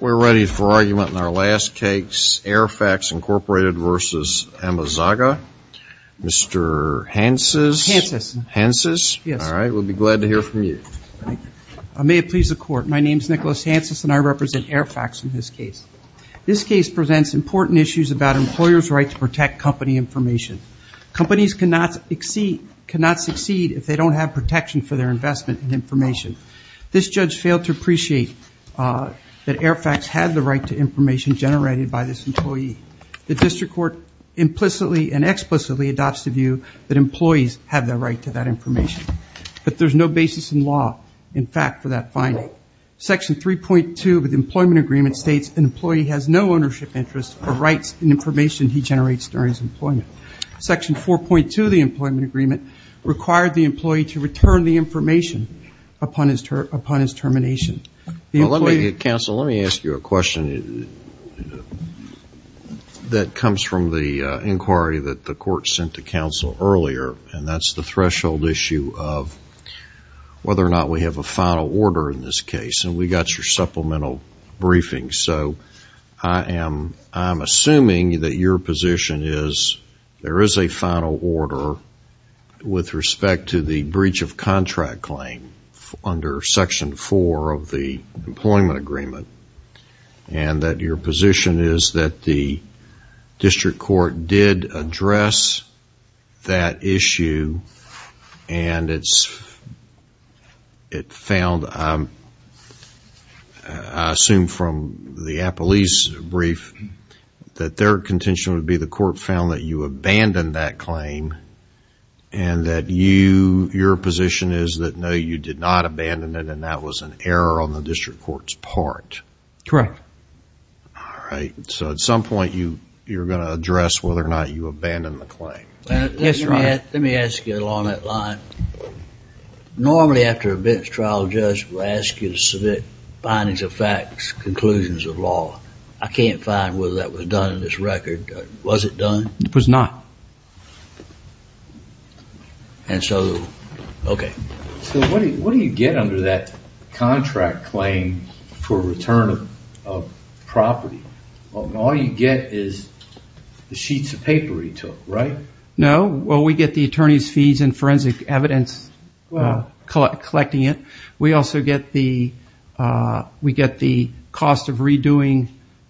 We're ready for argument in our last case, AirFacts, Inc. v. Amezaga. Mr. Hanses, we'll be glad to hear from you. May it please the court, my name is Nicholas Hanses and I represent AirFacts in this case. This case presents important issues about employers' right to protect company information. Companies cannot succeed if they don't have protection for their investment in information. This judge failed to appreciate that AirFacts had the right to information generated by this employee. The district court implicitly and explicitly adopts the view that employees have the right to that information, but there's no basis in law, in fact, for that finding. Section 3.2 of the employment agreement states an employee has no ownership interest or rights in information he generates during his employment. Section 4.2 of the employment agreement required the employee to return the information upon his termination. Well, let me, counsel, let me ask you a question that comes from the inquiry that the court sent to counsel earlier, and that's the threshold issue of whether or not we have a final order in this case, and we got your supplemental briefing. So I'm assuming that your position is there is a final order with respect to the breach of contract claim under Section 4 of the employment agreement, and that your position is that the district court did address that issue, and it found, I assume from the Appelese brief, that their contention would be the court found that you abandoned that claim, and that your position is that no, you did not abandon it, and that was an error on the district court's part. Correct. All right. So at some point, you're going to address whether or not you abandoned the claim. Yes, Your Honor. Let me ask you along that line. Normally after a bench trial, a judge will ask you to submit findings of facts, conclusions of law. I can't find whether that was done in this record. Was it done? It was not. And so, okay. So what do you get under that contract claim for return of property? All you get is the sheets of paper he took, right? No. Well, we get the attorney's fees and forensic evidence collecting it. We also get the cost of redoing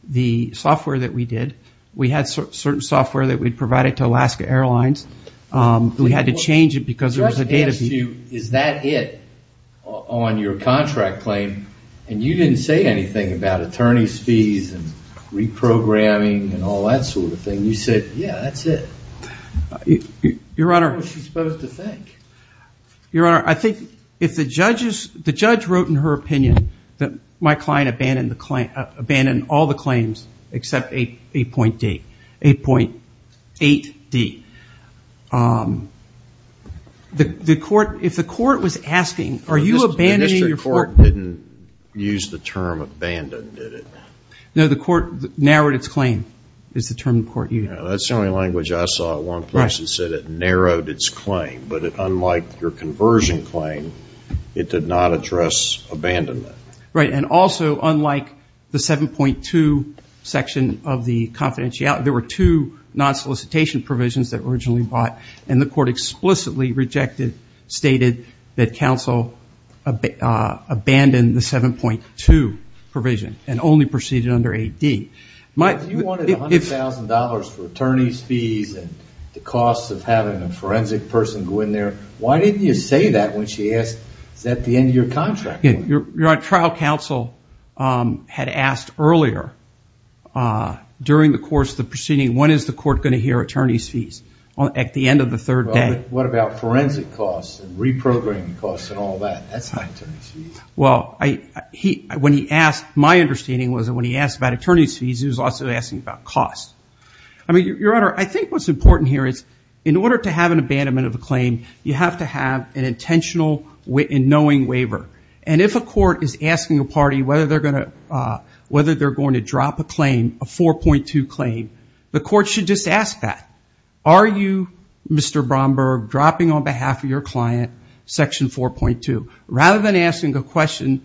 the software that we did. We had certain software that we provided to Alaska Airlines. We had to change it because there was a data fee. Is that it on your contract claim? And you didn't say anything about attorney's fees and reprogramming and all that sort of thing. You said, yeah, that's it. Your Honor. What was she supposed to think? Your Honor, I think if the judge wrote in her opinion that my client abandoned all the court. If the court was asking, are you abandoning your court? The district court didn't use the term abandoned, did it? No. The court narrowed its claim is the term the court used. That's the only language I saw at one place that said it narrowed its claim. But unlike your conversion claim, it did not address abandonment. Right. And also, unlike the 7.2 section of the confidentiality, there were two non-solicitation provisions that were originally bought. And the court explicitly rejected, stated that counsel abandoned the 7.2 provision and only proceeded under AD. If you wanted $100,000 for attorney's fees and the cost of having a forensic person go in there, why didn't you say that when she asked, is that the end of your contract? Trial counsel had asked earlier during the course of the proceeding, when is the court going to hear attorney's fees? At the end of the third day. Well, but what about forensic costs and reprogramming costs and all that? That's not attorney's fees. Well, my understanding was that when he asked about attorney's fees, he was also asking about cost. I mean, Your Honor, I think what's important here is in order to have an abandonment of a claim, you have to have an intentional and knowing waiver. And if a court is asking a party whether they're going to drop a claim, a 4.2 claim, the court should just ask that. Are you, Mr. Bromberg, dropping on behalf of your client section 4.2? Rather than asking a question,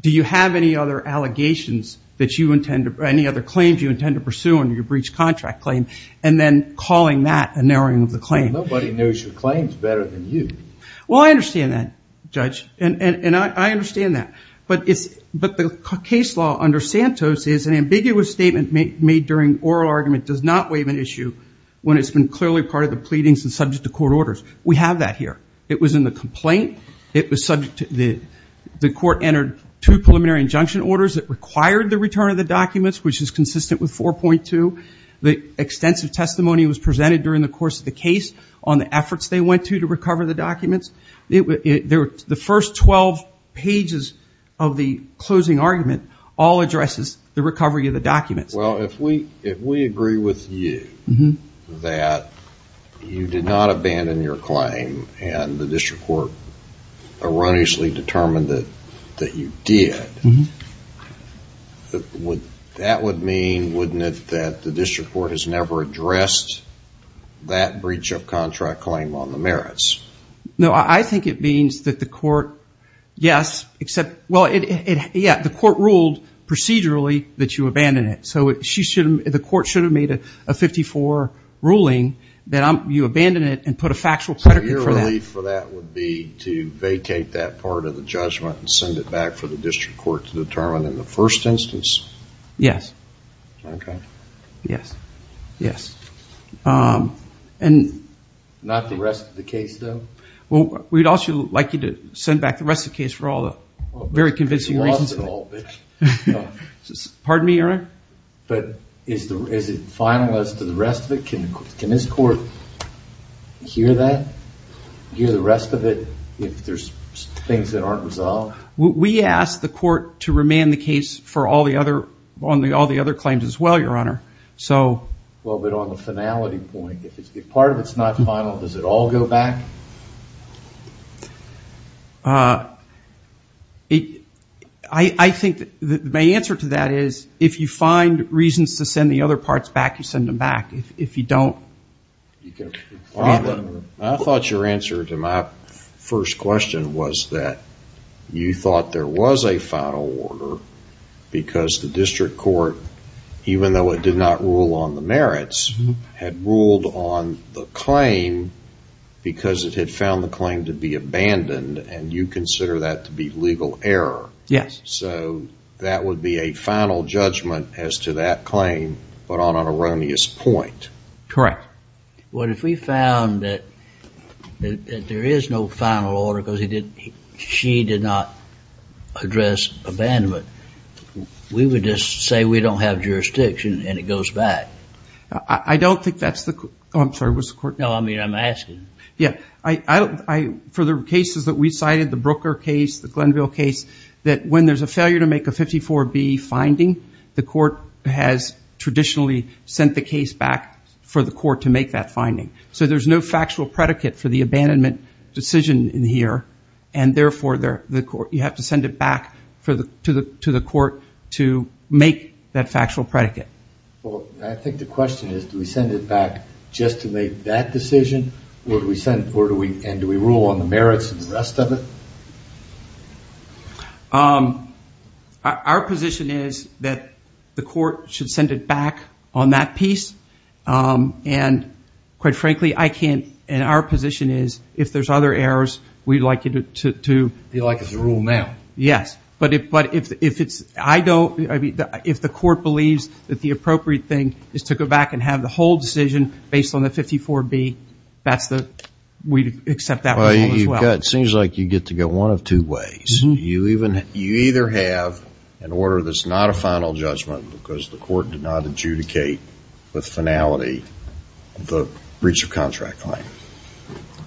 do you have any other allegations that you intend to, any other claims you intend to pursue under your breach contract claim? And then calling that a narrowing of the claim. Well, nobody knows your claims better than you. Well, I understand that, Judge. And I understand that. But the case law under Santos is an ambiguous statement made during oral argument does not waive an issue when it's been clearly part of the pleadings and subject to court orders. We have that here. It was in the complaint. It was subject to the court entered two preliminary injunction orders that required the return of the documents, which is consistent with 4.2. The extensive testimony was presented during the course of the case on the efforts they went to to recover the documents. Well, if we agree with you that you did not abandon your claim and the district court erroneously determined that you did, that would mean, wouldn't it, that the district court has never addressed that breach of contract claim on the merits? No, I think it means that the court, yes, except, well, yeah, the court ruled procedurally that you abandon it. So the court should have made a 54 ruling that you abandon it and put a factual predicate for that. So your relief for that would be to vacate that part of the judgment and send it back for the district court to determine in the first instance? Yes. Okay. Yes. Yes. And... Not the rest of the case, though? Well, we'd also like you to send back the rest of the case for all the very convincing reasons. You lost it all, bitch. Pardon me, Your Honor? But is it final as to the rest of it? Can this court hear that, hear the rest of it, if there's things that aren't resolved? We asked the court to remand the case for all the other claims as well, Your Honor. So... Well, but on the finality point, if part of it's not final, does it all go back? I think my answer to that is, if you find reasons to send the other parts back, you send them back. If you don't... I thought your answer to my first question was that you thought there was a final order because the district court, even though it did not rule on the merits, had ruled on the merits because it had found the claim to be abandoned and you consider that to be legal error. Yes. So that would be a final judgment as to that claim, but on an erroneous point. Correct. Well, if we found that there is no final order because he did, she did not address abandonment, we would just say we don't have jurisdiction and it goes back. I don't think that's the... Oh, I'm sorry. What's the court... No, I mean, I'm asking. Yeah. I don't... For the cases that we cited, the Brooker case, the Glenville case, that when there's a failure to make a 54B finding, the court has traditionally sent the case back for the court to make that finding. So there's no factual predicate for the abandonment decision in here, and therefore, you have to send it back to the court to make that factual predicate. I think the question is, do we send it back just to make that decision, and do we rule on the merits of the rest of it? Our position is that the court should send it back on that piece, and quite frankly, I can't... And our position is, if there's other errors, we'd like you to... You'd like us to rule now. Yes. But if it's... I don't... I mean, if the court believes that the appropriate thing is to go back and have the whole decision based on the 54B, that's the... We'd accept that rule as well. It seems like you get to go one of two ways. You either have an order that's not a final judgment because the court did not adjudicate with finality the breach of contract claim,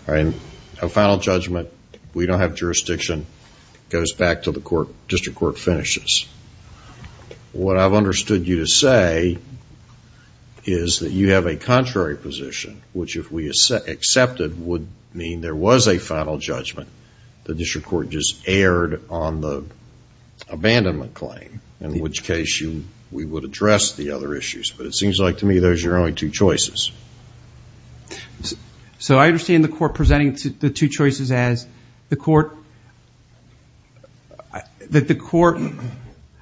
and a final judgment, we don't have jurisdiction, goes back to the court, district court finishes. What I've understood you to say is that you have a contrary position, which if we accepted would mean there was a final judgment. The district court just erred on the abandonment claim, in which case we would address the other issues. But it seems like to me those are your only two choices. So, I understand the court presenting the two choices as the court, that the court...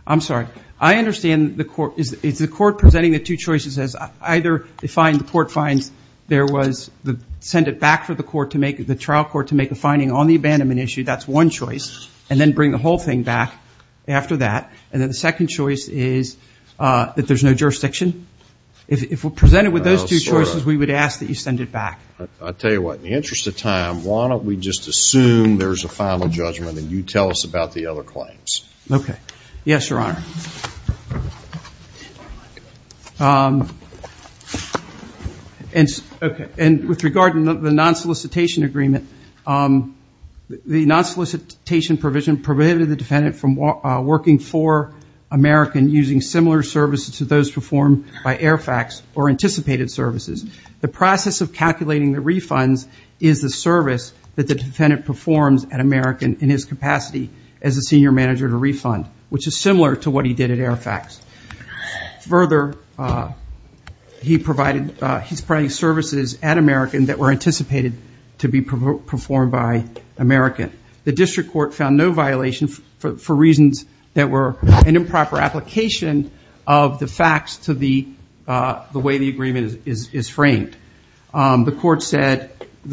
I'm sorry. I understand the court... Is the court presenting the two choices as either they find, the court finds there was... Send it back for the court to make, the trial court to make a finding on the abandonment issue. That's one choice. And then bring the whole thing back after that. And then the second choice is that there's no jurisdiction. If we're presented with those two choices, we would ask that you send it back. I'll tell you what, in the interest of time, why don't we just assume there's a final judgment and you tell us about the other claims. Okay. Yes, Your Honor. And with regard to the non-solicitation agreement, the non-solicitation provision prohibited the defendant from working for American using similar services to those performed by AIRFAX or anticipated services. The process of calculating the refunds is the service that the defendant performs at American in his capacity as a senior manager to refund, which is similar to what he did at AIRFAX. Further, he's providing services at American that were anticipated to be performed by American. The district court found no violation for reasons that were an improper application of the facts to the way the agreement is framed. The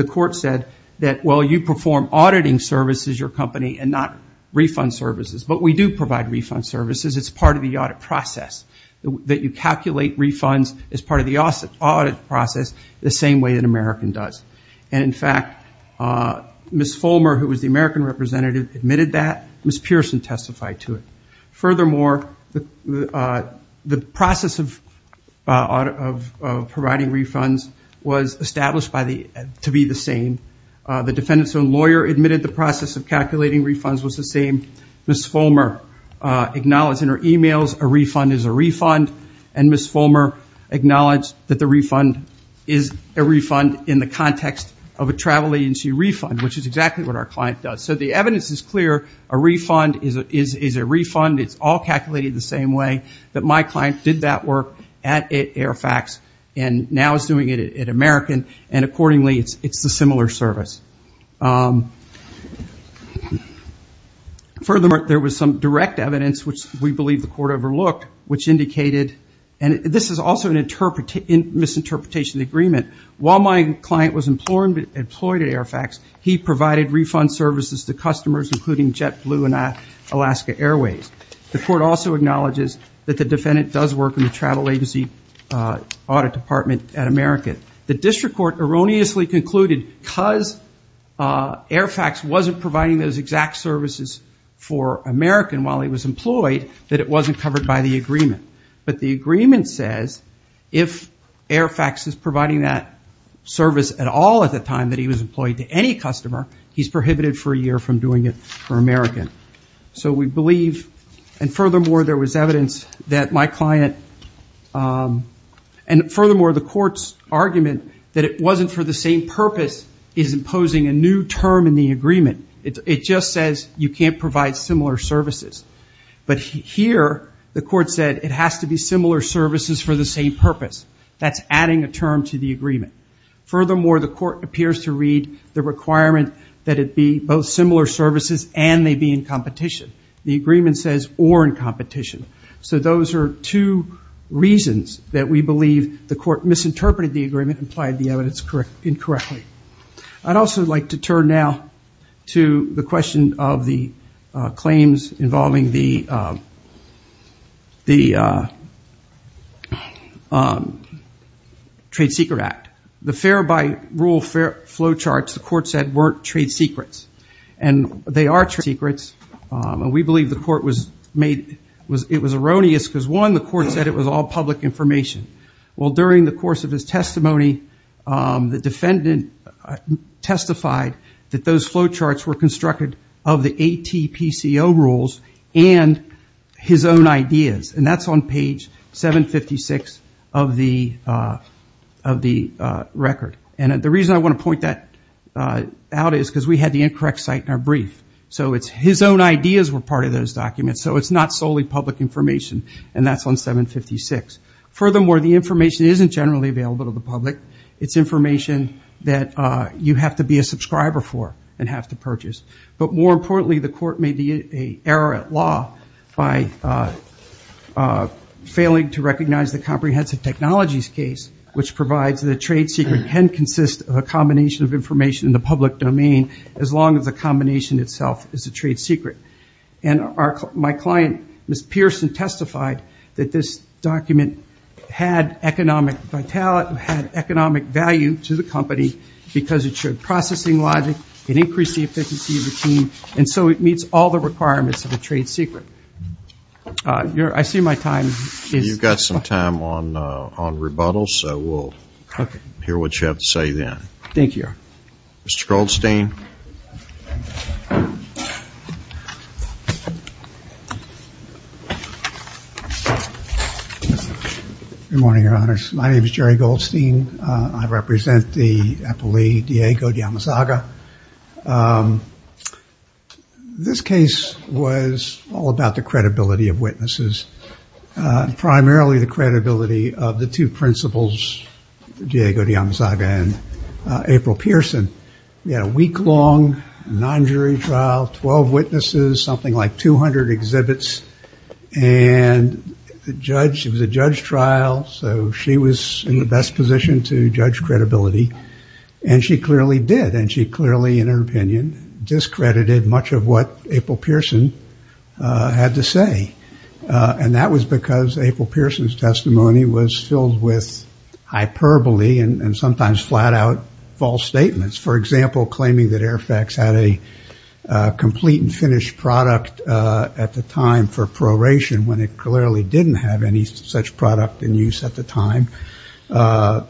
court said that, well, you perform auditing services, your company, and not refund services. But we do provide refund services. It's part of the audit process that you calculate refunds as part of the audit process the same way that American does. And, in fact, Ms. Fulmer, who was the American representative, admitted that. Ms. Pearson testified to it. Furthermore, the process of providing refunds was established to be the same. The defendant's own lawyer admitted the process of calculating refunds was the same. Ms. Fulmer acknowledged in her emails a refund is a refund, and Ms. Fulmer acknowledged that the refund is a refund in the context of a travel agency refund, which is exactly what our client does. So the evidence is clear, a refund is a refund. It's all calculated the same way that my client did that work at AIRFAX, and now is doing it at American, and accordingly, it's a similar service. Furthermore, there was some direct evidence, which we believe the court overlooked, which is misinterpretation of the agreement. While my client was employed at AIRFAX, he provided refund services to customers, including JetBlue and Alaska Airways. The court also acknowledges that the defendant does work in the travel agency audit department at American. The district court erroneously concluded, because AIRFAX wasn't providing those exact services for American while he was employed, that it wasn't covered by the agreement. But the agreement says if AIRFAX is providing that service at all at the time that he was employed to any customer, he's prohibited for a year from doing it for American. So we believe, and furthermore, there was evidence that my client, and furthermore, the court's argument that it wasn't for the same purpose is imposing a new term in the agreement. It just says you can't provide similar services. But here, the court said it has to be similar services for the same purpose. That's adding a term to the agreement. Furthermore, the court appears to read the requirement that it be both similar services and they be in competition. The agreement says or in competition. So those are two reasons that we believe the court misinterpreted the agreement and applied the evidence incorrectly. I'd also like to turn now to the question of the claims involving the Trade Secret Act. The fair by rule flowcharts, the court said, weren't trade secrets. And they are trade secrets. We believe the court was made, it was erroneous because one, the court said it was all public information. Well, during the course of his testimony, the defendant testified that those flowcharts were constructed of the ATPCO rules and his own ideas. And that's on page 756 of the record. And the reason I want to point that out is because we had the incorrect site in our brief. So it's his own ideas were part of those documents. So it's not solely public information. And that's on 756. Furthermore, the information isn't generally available to the public. It's information that you have to be a subscriber for and have to purchase. But more importantly, the court made a error at law by failing to recognize the comprehensive technologies case, which provides that a trade secret can consist of a combination of information in the public domain as long as the combination itself is a trade secret. And my client, Ms. Pearson, testified that this document had economic vitality, had economic value to the company because it showed processing logic, it increased the efficiency of the team. And so it meets all the requirements of a trade secret. I see my time is up. You've got some time on rebuttal. So we'll hear what you have to say then. Thank you. Mr. Goldstein. Good morning, your honors. My name is Jerry Goldstein. I represent the Epelee Diego de Amazaga. This case was all about the credibility of witnesses, primarily the credibility of the two principals, Diego de Amazaga and April Pearson. We had a week-long non-jury trial, 12 witnesses, something like 200 exhibits. And the judge, it was a judge trial, so she was in the best position to judge credibility. And she clearly did. And she clearly, in her opinion, discredited much of what April Pearson had to say. And that was because April Pearson's testimony was filled with hyperbole and sometimes flat-out false statements. For example, claiming that Airfax had a complete and finished product at the time for proration when it clearly didn't have any such product in use at the time,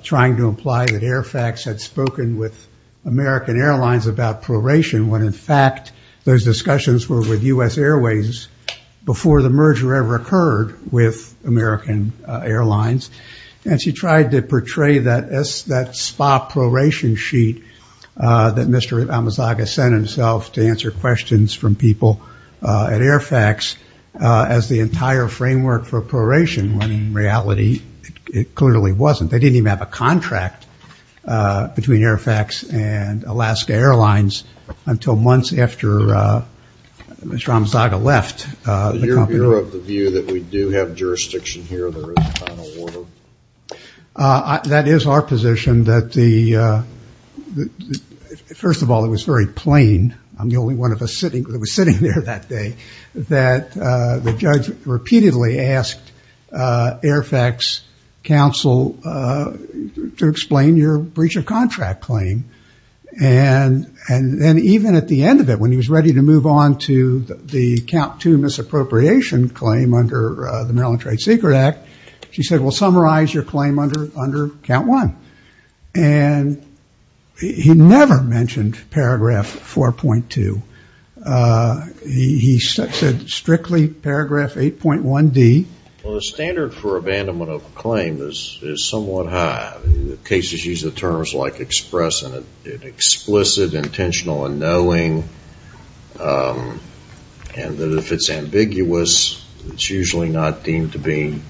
trying to imply that Airfax had spoken with American Airlines about proration when, in fact, those discussions were with U.S. Airways before the merger ever occurred with American Airlines. And she tried to portray that SPA proration sheet that Mr. Amazaga sent himself to answer questions from people at Airfax as the entire framework for proration when, in reality, it clearly wasn't. They didn't even have a contract between Airfax and Alaska Airlines until months after Mr. Amazaga left the company. Is it fair of the view that we do have jurisdiction here in the final order? That is our position that the, first of all, it was very plain, I'm the only one of us sitting there that day, that the judge repeatedly asked Airfax counsel to explain your breach of contract claim. And even at the end of it, when he was ready to move on to the count two misappropriation claim under the Maryland Trade Secret Act, he said, well, summarize your claim under count one. And he never mentioned paragraph 4.2. He said strictly paragraph 8.1D. Well, the standard for abandonment of a claim is somewhat high. Cases use the terms like express and explicit, intentional and knowing, and that if it's ambiguous, it's usually not deemed to be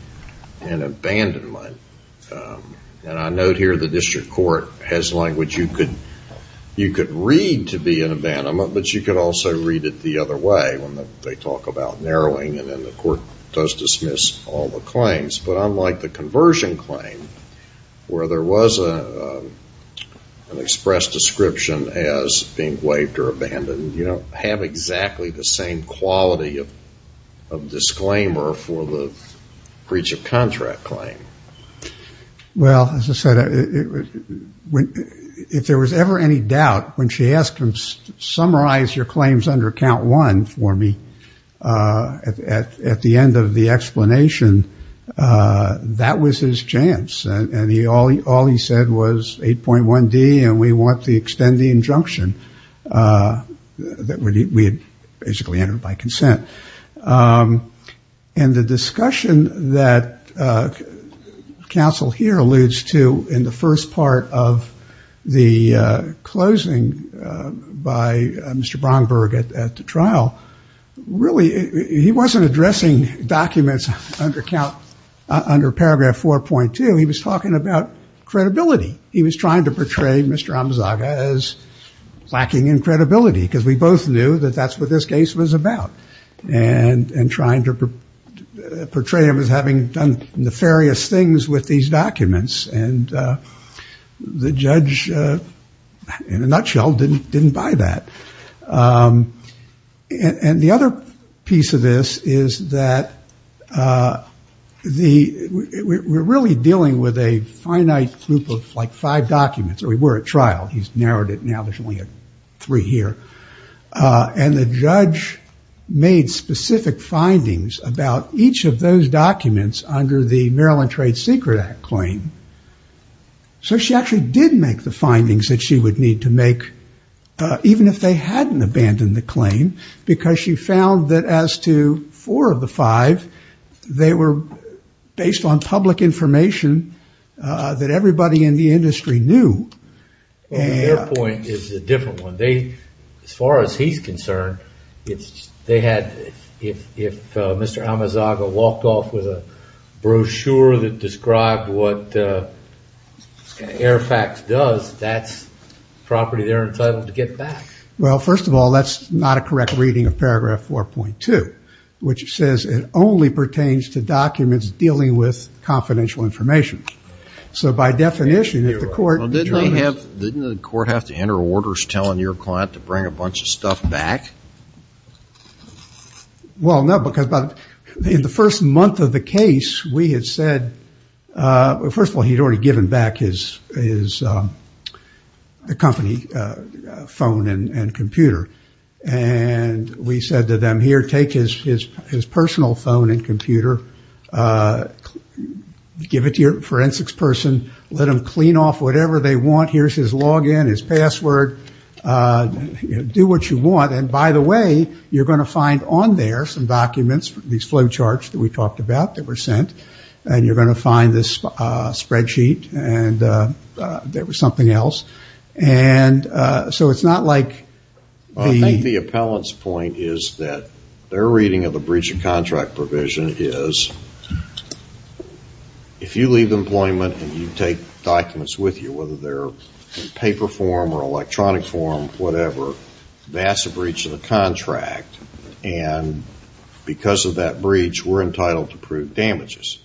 an abandonment. And I note here the district court has language you could read to be an abandonment, but you could also read it the other way when they talk about narrowing and then the court does dismiss all the claims. But unlike the conversion claim, where there was an express description as being waived or abandoned, you don't have exactly the same quality of disclaimer for the breach of contract claim. Well, as I said, if there was ever any doubt, when she asked him to summarize your claims under count one for me, at the end of the explanation, that was his chance. And all he said was 8.1D, and we want to extend the injunction that we had basically entered by consent. And the discussion that counsel here alludes to in the first part of the closing by Mr. Bromberg at the trial, really he wasn't addressing documents under paragraph 4.2. He was talking about credibility. He was trying to portray Mr. Amzaga as lacking in credibility, because we both knew that that's what this case was about, and trying to portray him as having done nefarious things with these documents. And the judge, in a nutshell, didn't buy that. And the other piece of this is that we're really dealing with a finite group of five documents. We were at trial. He's narrowed it now. There's only three here. And the judge made specific findings about each of those documents under the Maryland Trade Secret Act claim. So she actually did make the findings that she would need to make, even if they hadn't abandoned the claim, because she found that as to four of the five, they were based on public information that everybody in the industry knew. Well, their point is a different one. They, as far as he's concerned, if Mr. Amzaga walked off with a brochure that described what AIRFAX does, that's property they're entitled to get back. Well, first of all, that's not a correct reading of paragraph 4.2, which says it only pertains to documents dealing with confidential information. So by definition, if the court- Well, no, because in the first month of the case, we had said, well, first of all, he'd already given back his company phone and computer. And we said to them, here, take his personal phone and computer. Give it to your forensics person. Let them clean off whatever they want. Here's his login, his password. Do what you want. And by the way, you're going to find on there some documents, these flow charts that we talked about that were sent. And you're going to find this spreadsheet. And there was something else. And so it's not like the- I think the appellant's point is that their reading of the breach of contract provision is, if you leave employment and you take documents with you, whether they're in paper form or electronic form, whatever, that's a breach of the contract. And because of that breach, we're entitled to prove damages.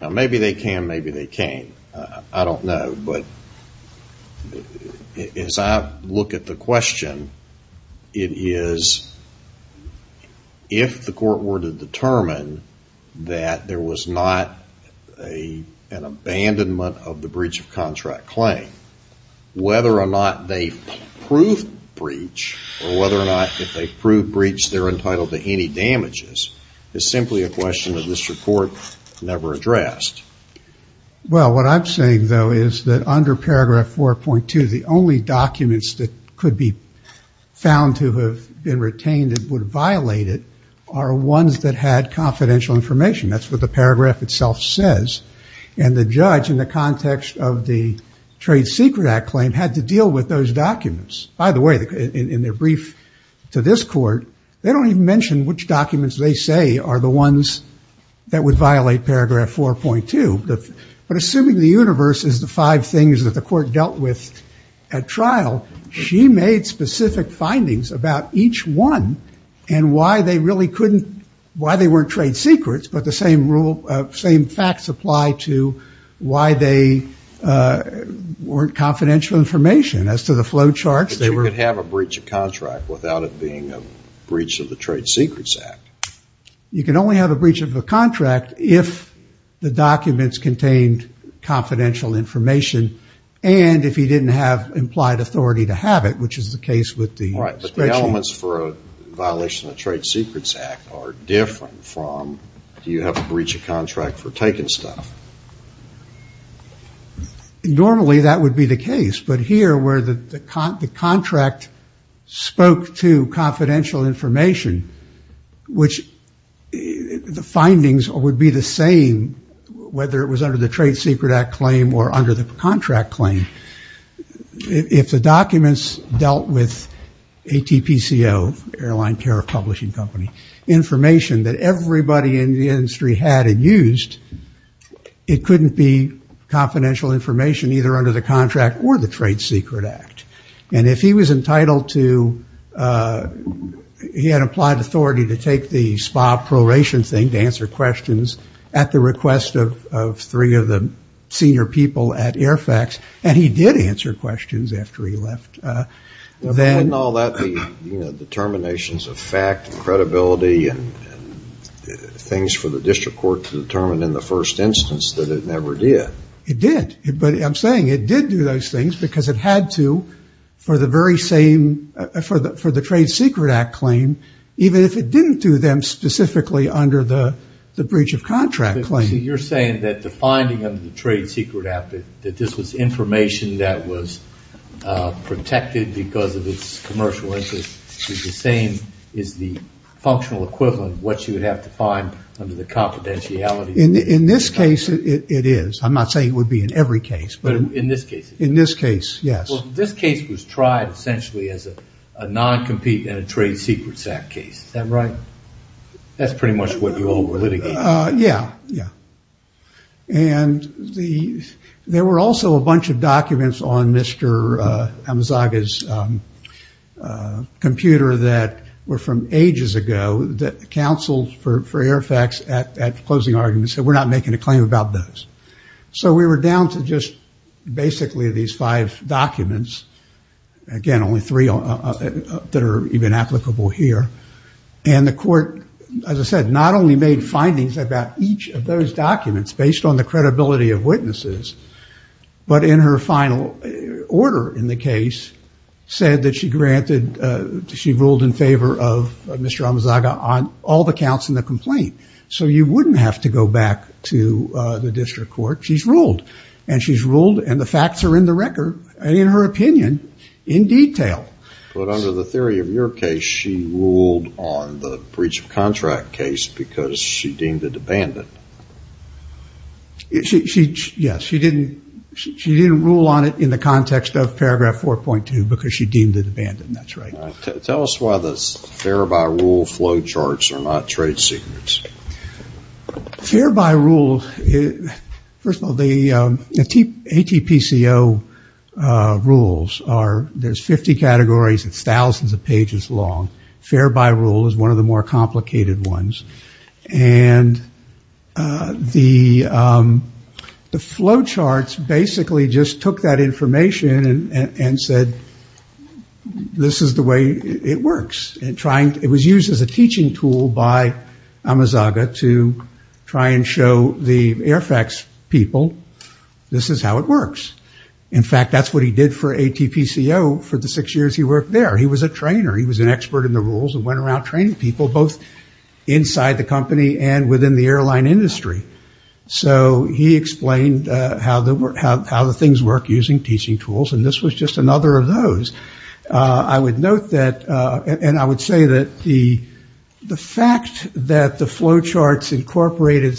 Now, maybe they can. Maybe they can't. I don't know. But as I look at the question, it is, if the court were to determine that there was not an abandonment of the breach of contract claim, whether or not they prove breach, or whether or not if they prove breach, they're entitled to any damages, is simply a question that this report never addressed. Well, what I'm saying, though, is that under paragraph 4.2, the only documents that could be found to have been retained that would violate it are ones that had confidential information. That's what the paragraph itself says. And the judge, in the context of the Trade Secret Act claim, had to deal with those documents. By the way, in their brief to this court, they don't even mention which documents they say are the ones that would violate paragraph 4.2. But assuming the universe is the five things that the court dealt with at trial, she made specific findings about each one and why they weren't trade secrets. But the same facts apply to why they weren't confidential information. As to the flowcharts, they were. But you could have a breach of contract without it being a breach of the Trade Secrets Act. You can only have a breach of a contract if the documents contained confidential information and if he didn't have implied authority to have it, which is the case with the… Right. But the elements for a violation of the Trade Secrets Act are different from, do you have a breach of contract for taking stuff? Normally, that would be the case. But here, where the contract spoke to confidential information, which the findings would be the same whether it was under the Trade Secret Act claim or under the contract claim. If the documents dealt with ATPCO, Airline Carrier Publishing Company, information that everybody in the industry had and used, it couldn't be confidential information either under the contract or the Trade Secret Act. And if he was entitled to, he had implied authority to take the SPA proration thing to answer questions at the request of three of the senior people at Airfax, and he did answer questions after he left, then… But wasn't all that the determinations of fact and credibility and things for the District Court to determine in the first instance that it never did? It did. I'm saying it did do those things because it had to for the very same, for the Trade Secret Act claim, even if it didn't do them specifically under the breach of contract claim. You're saying that the finding of the Trade Secret Act, that this was information that was protected because of its commercial interest, is the same, is the functional equivalent of what you would have to find under the confidentiality? In this case, it is. I'm not saying it would be in every case. But in this case? In this case, yes. Well, this case was tried essentially as a non-compete in a Trade Secrets Act case. Is that right? That's pretty much what you all were litigating. Yeah, yeah. And there were also a bunch of documents on Mr. Amazaga's computer that were from ages ago that counseled for Airfax at closing arguments that we're not making a claim about those. So we were down to just basically these five documents. Again, only three that are even applicable here. And the court, as I said, not only made findings about each of those documents based on the credibility of witnesses, but in her final order in the case, said that she granted, she ruled in favor of Mr. Amazaga on all the counts in the complaint. So you wouldn't have to go back to the district court. She's ruled. And she's ruled, and the facts are in the record, and in her opinion, in detail. But under the theory of your case, she ruled on the breach of contract case because she deemed it abandoned. Yes, she didn't rule on it in the context of paragraph 4.2 because she deemed it abandoned. That's right. Tell us why the fair by rule flow charts are not trade secrets. The fair by rule, first of all, the ATPCO rules, there's 50 categories. It's thousands of pages long. Fair by rule is one of the more complicated ones. And the flow charts basically just took that information and said, this is the way it works. It was used as a teaching tool by Amazaga to try and show the Airfax people, this is how it works. In fact, that's what he did for ATPCO for the six years he worked there. He was a trainer. He was an expert in the rules and went around training people, both inside the company and within the airline industry. So he explained how the things work using teaching tools, and this was just another of those. I would note that, and I would say that the fact that the flow charts incorporated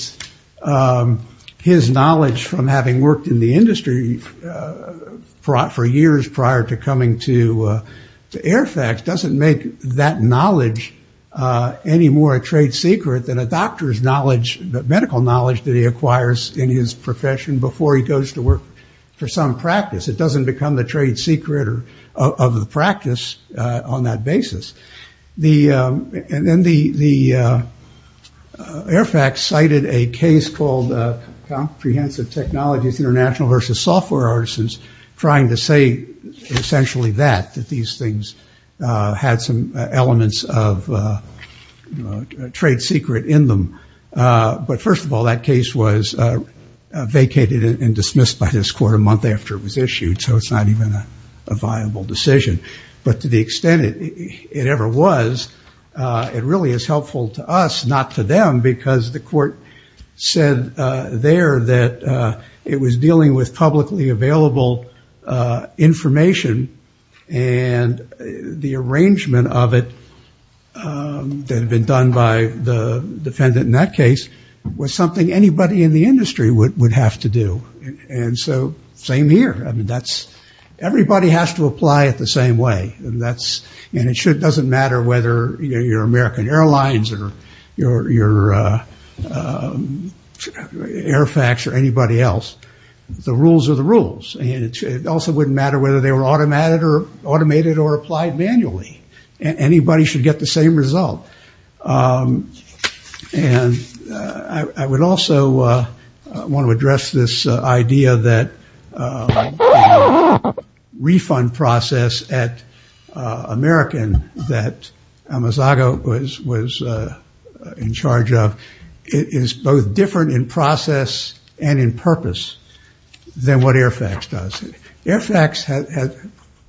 his knowledge from having worked in the industry for years prior to coming to Airfax doesn't make that knowledge any more a trade secret than a doctor's knowledge, the medical knowledge that he acquires in his profession before he goes to work for some practice. It doesn't become the trade secret of the practice on that basis. And then the Airfax cited a case called Comprehensive Technologies International versus Software Artisans trying to say essentially that, that these things had some elements of trade secret in them. But first of all, that case was vacated and dismissed by this court a month after it was issued, so it's not even a viable decision. But to the extent it ever was, it really is helpful to us, not to them, because the court said there that it was dealing with publicly available information and the arrangement of it that had been done by the defendant in that case was something anybody in the industry would have to do. And so same here. Everybody has to apply it the same way, and it doesn't matter whether you're American Airlines or you're Airfax or anybody else. The rules are the rules. And it also wouldn't matter whether they were automated or applied manually. Anybody should get the same result. And I would also want to address this idea that the refund process at American that Amazago was in charge of is both different in process and in purpose than what Airfax does. Airfax has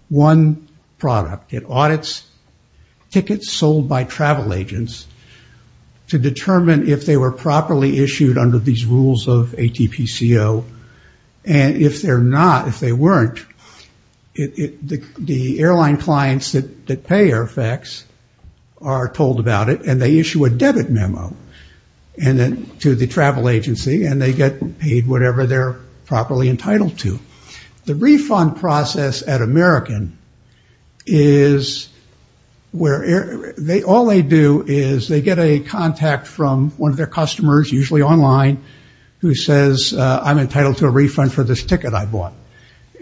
one product. It audits tickets sold by travel agents to determine if they were properly issued under these rules of ATPCO. And if they're not, if they weren't, the airline clients that pay Airfax are told about it, and they issue a debit memo to the travel agency, and they get paid whatever they're properly entitled to. The refund process at American is where all they do is they get a contact from one of their customers, usually online, who says, I'm entitled to a refund for this ticket I bought.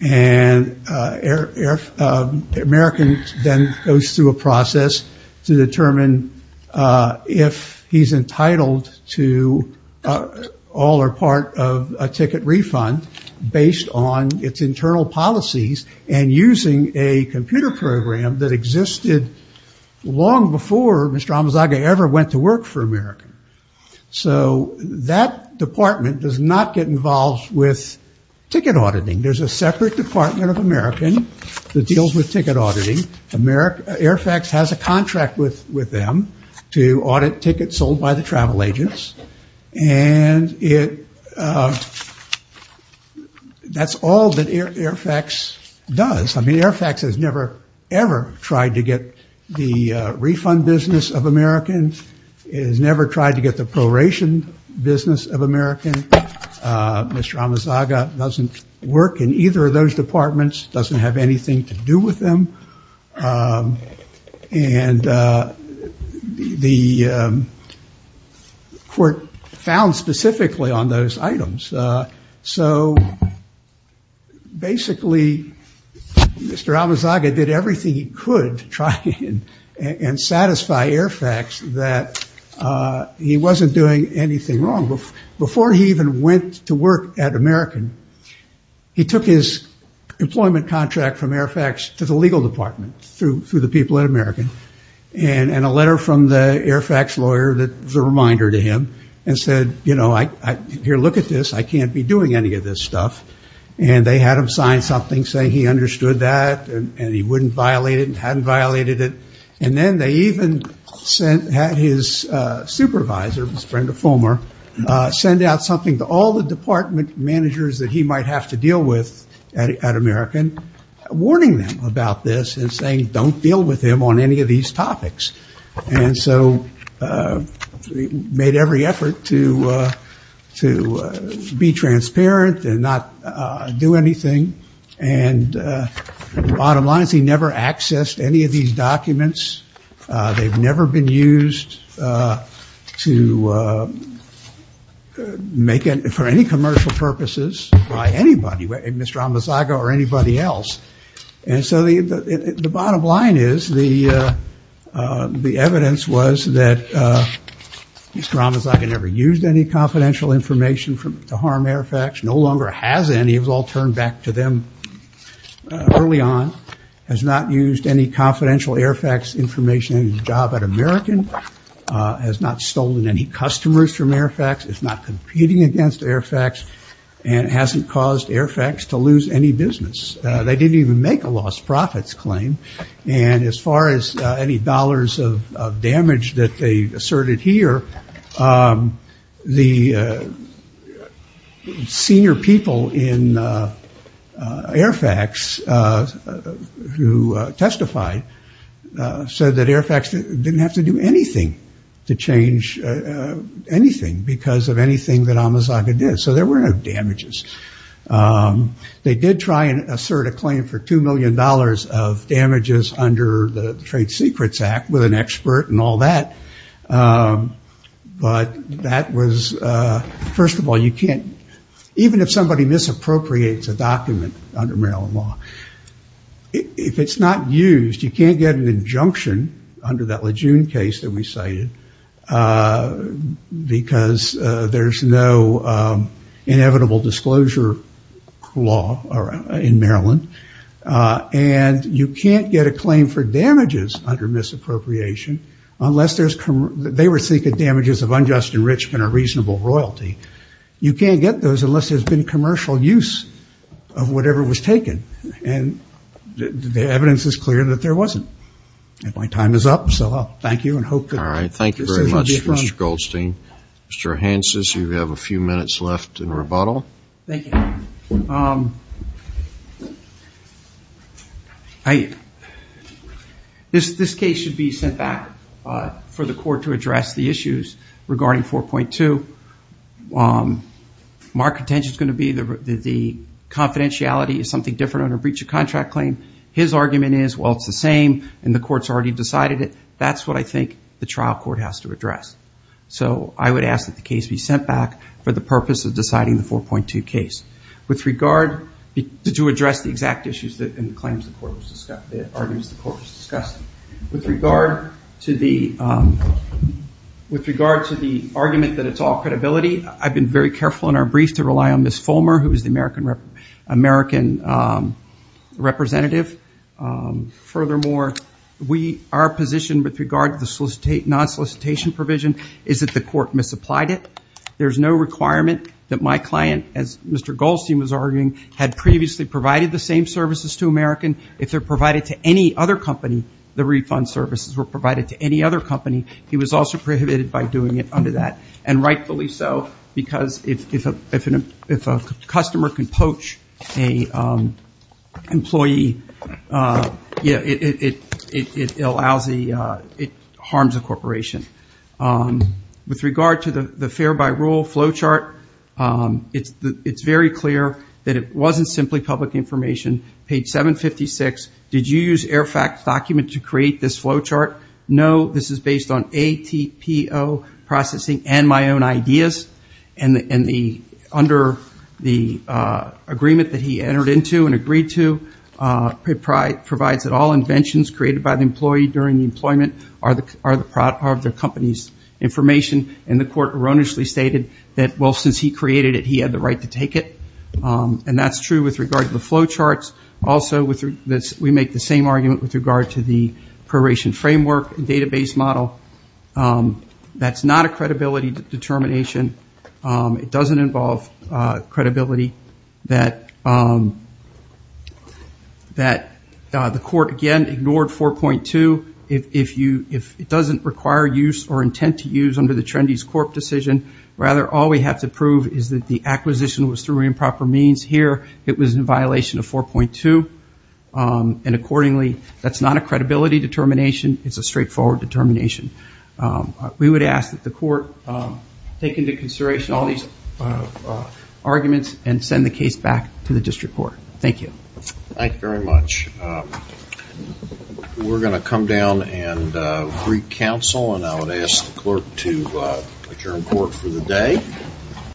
And American then goes through a process to determine if he's entitled to all or of a ticket refund based on its internal policies and using a computer program that existed long before Mr. Amazago ever went to work for American. So that department does not get involved with ticket auditing. There's a separate department of American that deals with ticket auditing. Airfax has a contract with them to audit tickets sold by the travel agents. And that's all that Airfax does. I mean, Airfax has never, ever tried to get the refund business of American. It has never tried to get the proration business of American. Mr. Amazago doesn't work in either of those departments, doesn't have anything to do with them. And the court found specifically on those items. So basically, Mr. Amazago did everything he could to try and satisfy Airfax that he wasn't doing anything wrong. Before he even went to work at American, he took his employment contract from the legal department through the people at American and a letter from the Airfax lawyer that was a reminder to him and said, you know, here, look at this. I can't be doing any of this stuff. And they had him sign something saying he understood that and he wouldn't violate it and hadn't violated it. And then they even had his supervisor, Brenda Fulmer, send out something to all the department managers that he might have to deal with at American, warning them about this and saying don't deal with him on any of these topics. And so he made every effort to be transparent and not do anything. And bottom line is he never accessed any of these documents. They've never been used to make it for any commercial purposes by anybody, Mr. Amazago or anybody else. And so the bottom line is the evidence was that Mr. Amazago never used any confidential information to harm Airfax, no longer has any. It was all turned back to them early on. Has not used any confidential Airfax information in his job at American. Has not stolen any customers from Airfax. Is not competing against Airfax. And hasn't caused Airfax to lose any business. They didn't even make a lost profits claim. And as far as any dollars of damage that they asserted here, the senior people in Airfax who testified said that Airfax didn't have to do anything to change anything because of anything that Amazago did. So there were no damages. They did try and assert a claim for $2 million of damages under the trade secrets act with an expert and all that. But that was, first of all, you can't, even if somebody misappropriates a document under Maryland law, if it's not used, you can't get an injunction under that Lejeune case that we cited because there's no inevitable disclosure law in Maryland. And you can't get a claim for damages under misappropriation unless there's, they were seeking damages of unjust enrichment or reasonable royalty. You can't get those unless there's been commercial use of whatever was taken. And the evidence is clear that there wasn't. And my time is up. So thank you. All right. Thank you very much, Mr. Goldstein. Mr. Hanses, you have a few minutes left in rebuttal. Thank you. This case should be sent back for the court to address the issues regarding 4.2. Mark's intention is going to be that the confidentiality is something different under breach of contract claim. His argument is, well, it's the same. And the court's already decided it. That's what I think the trial court has to address. So I would ask that the case be sent back for the purpose of deciding the 4.2 case. With regard to address the exact issues and the claims the court was discussing, with regard to the argument that it's all credibility, I've been very careful in our furthermore, our position with regard to the non-solicitation provision is that the court misapplied it. There's no requirement that my client, as Mr. Goldstein was arguing, had previously provided the same services to American. If they're provided to any other company, the refund services were provided to any other company. He was also prohibited by doing it under that. And rightfully so, because if a customer can poach an employee, it harms a corporation. With regard to the fare by rule flowchart, it's very clear that it wasn't simply public information. Page 756, did you use AIRFAQ's document to create this flowchart? No, this is based on ATPO processing and my own ideas. And under the agreement that he entered into and agreed to, it provides that all inventions created by the employee during the employment are of the company's information. And the court erroneously stated that, well, since he created it, he had the right to take it. And that's true with regard to the flowcharts. Also, we make the same argument with regard to the probation framework and database model. That's not a credibility determination. It doesn't involve credibility that the court, again, ignored 4.2. If it doesn't require use or intent to use under the Trendy's Corp decision, rather, all we have to prove is that the acquisition was through improper means. Here, it was in violation of 4.2. And accordingly, that's not a credibility determination. It's a straightforward determination. We would ask that the court take into consideration all these arguments and send the case back to the district court. Thank you. Thank you very much. We're going to come down and re-counsel. And I would ask the clerk to adjourn court for the day.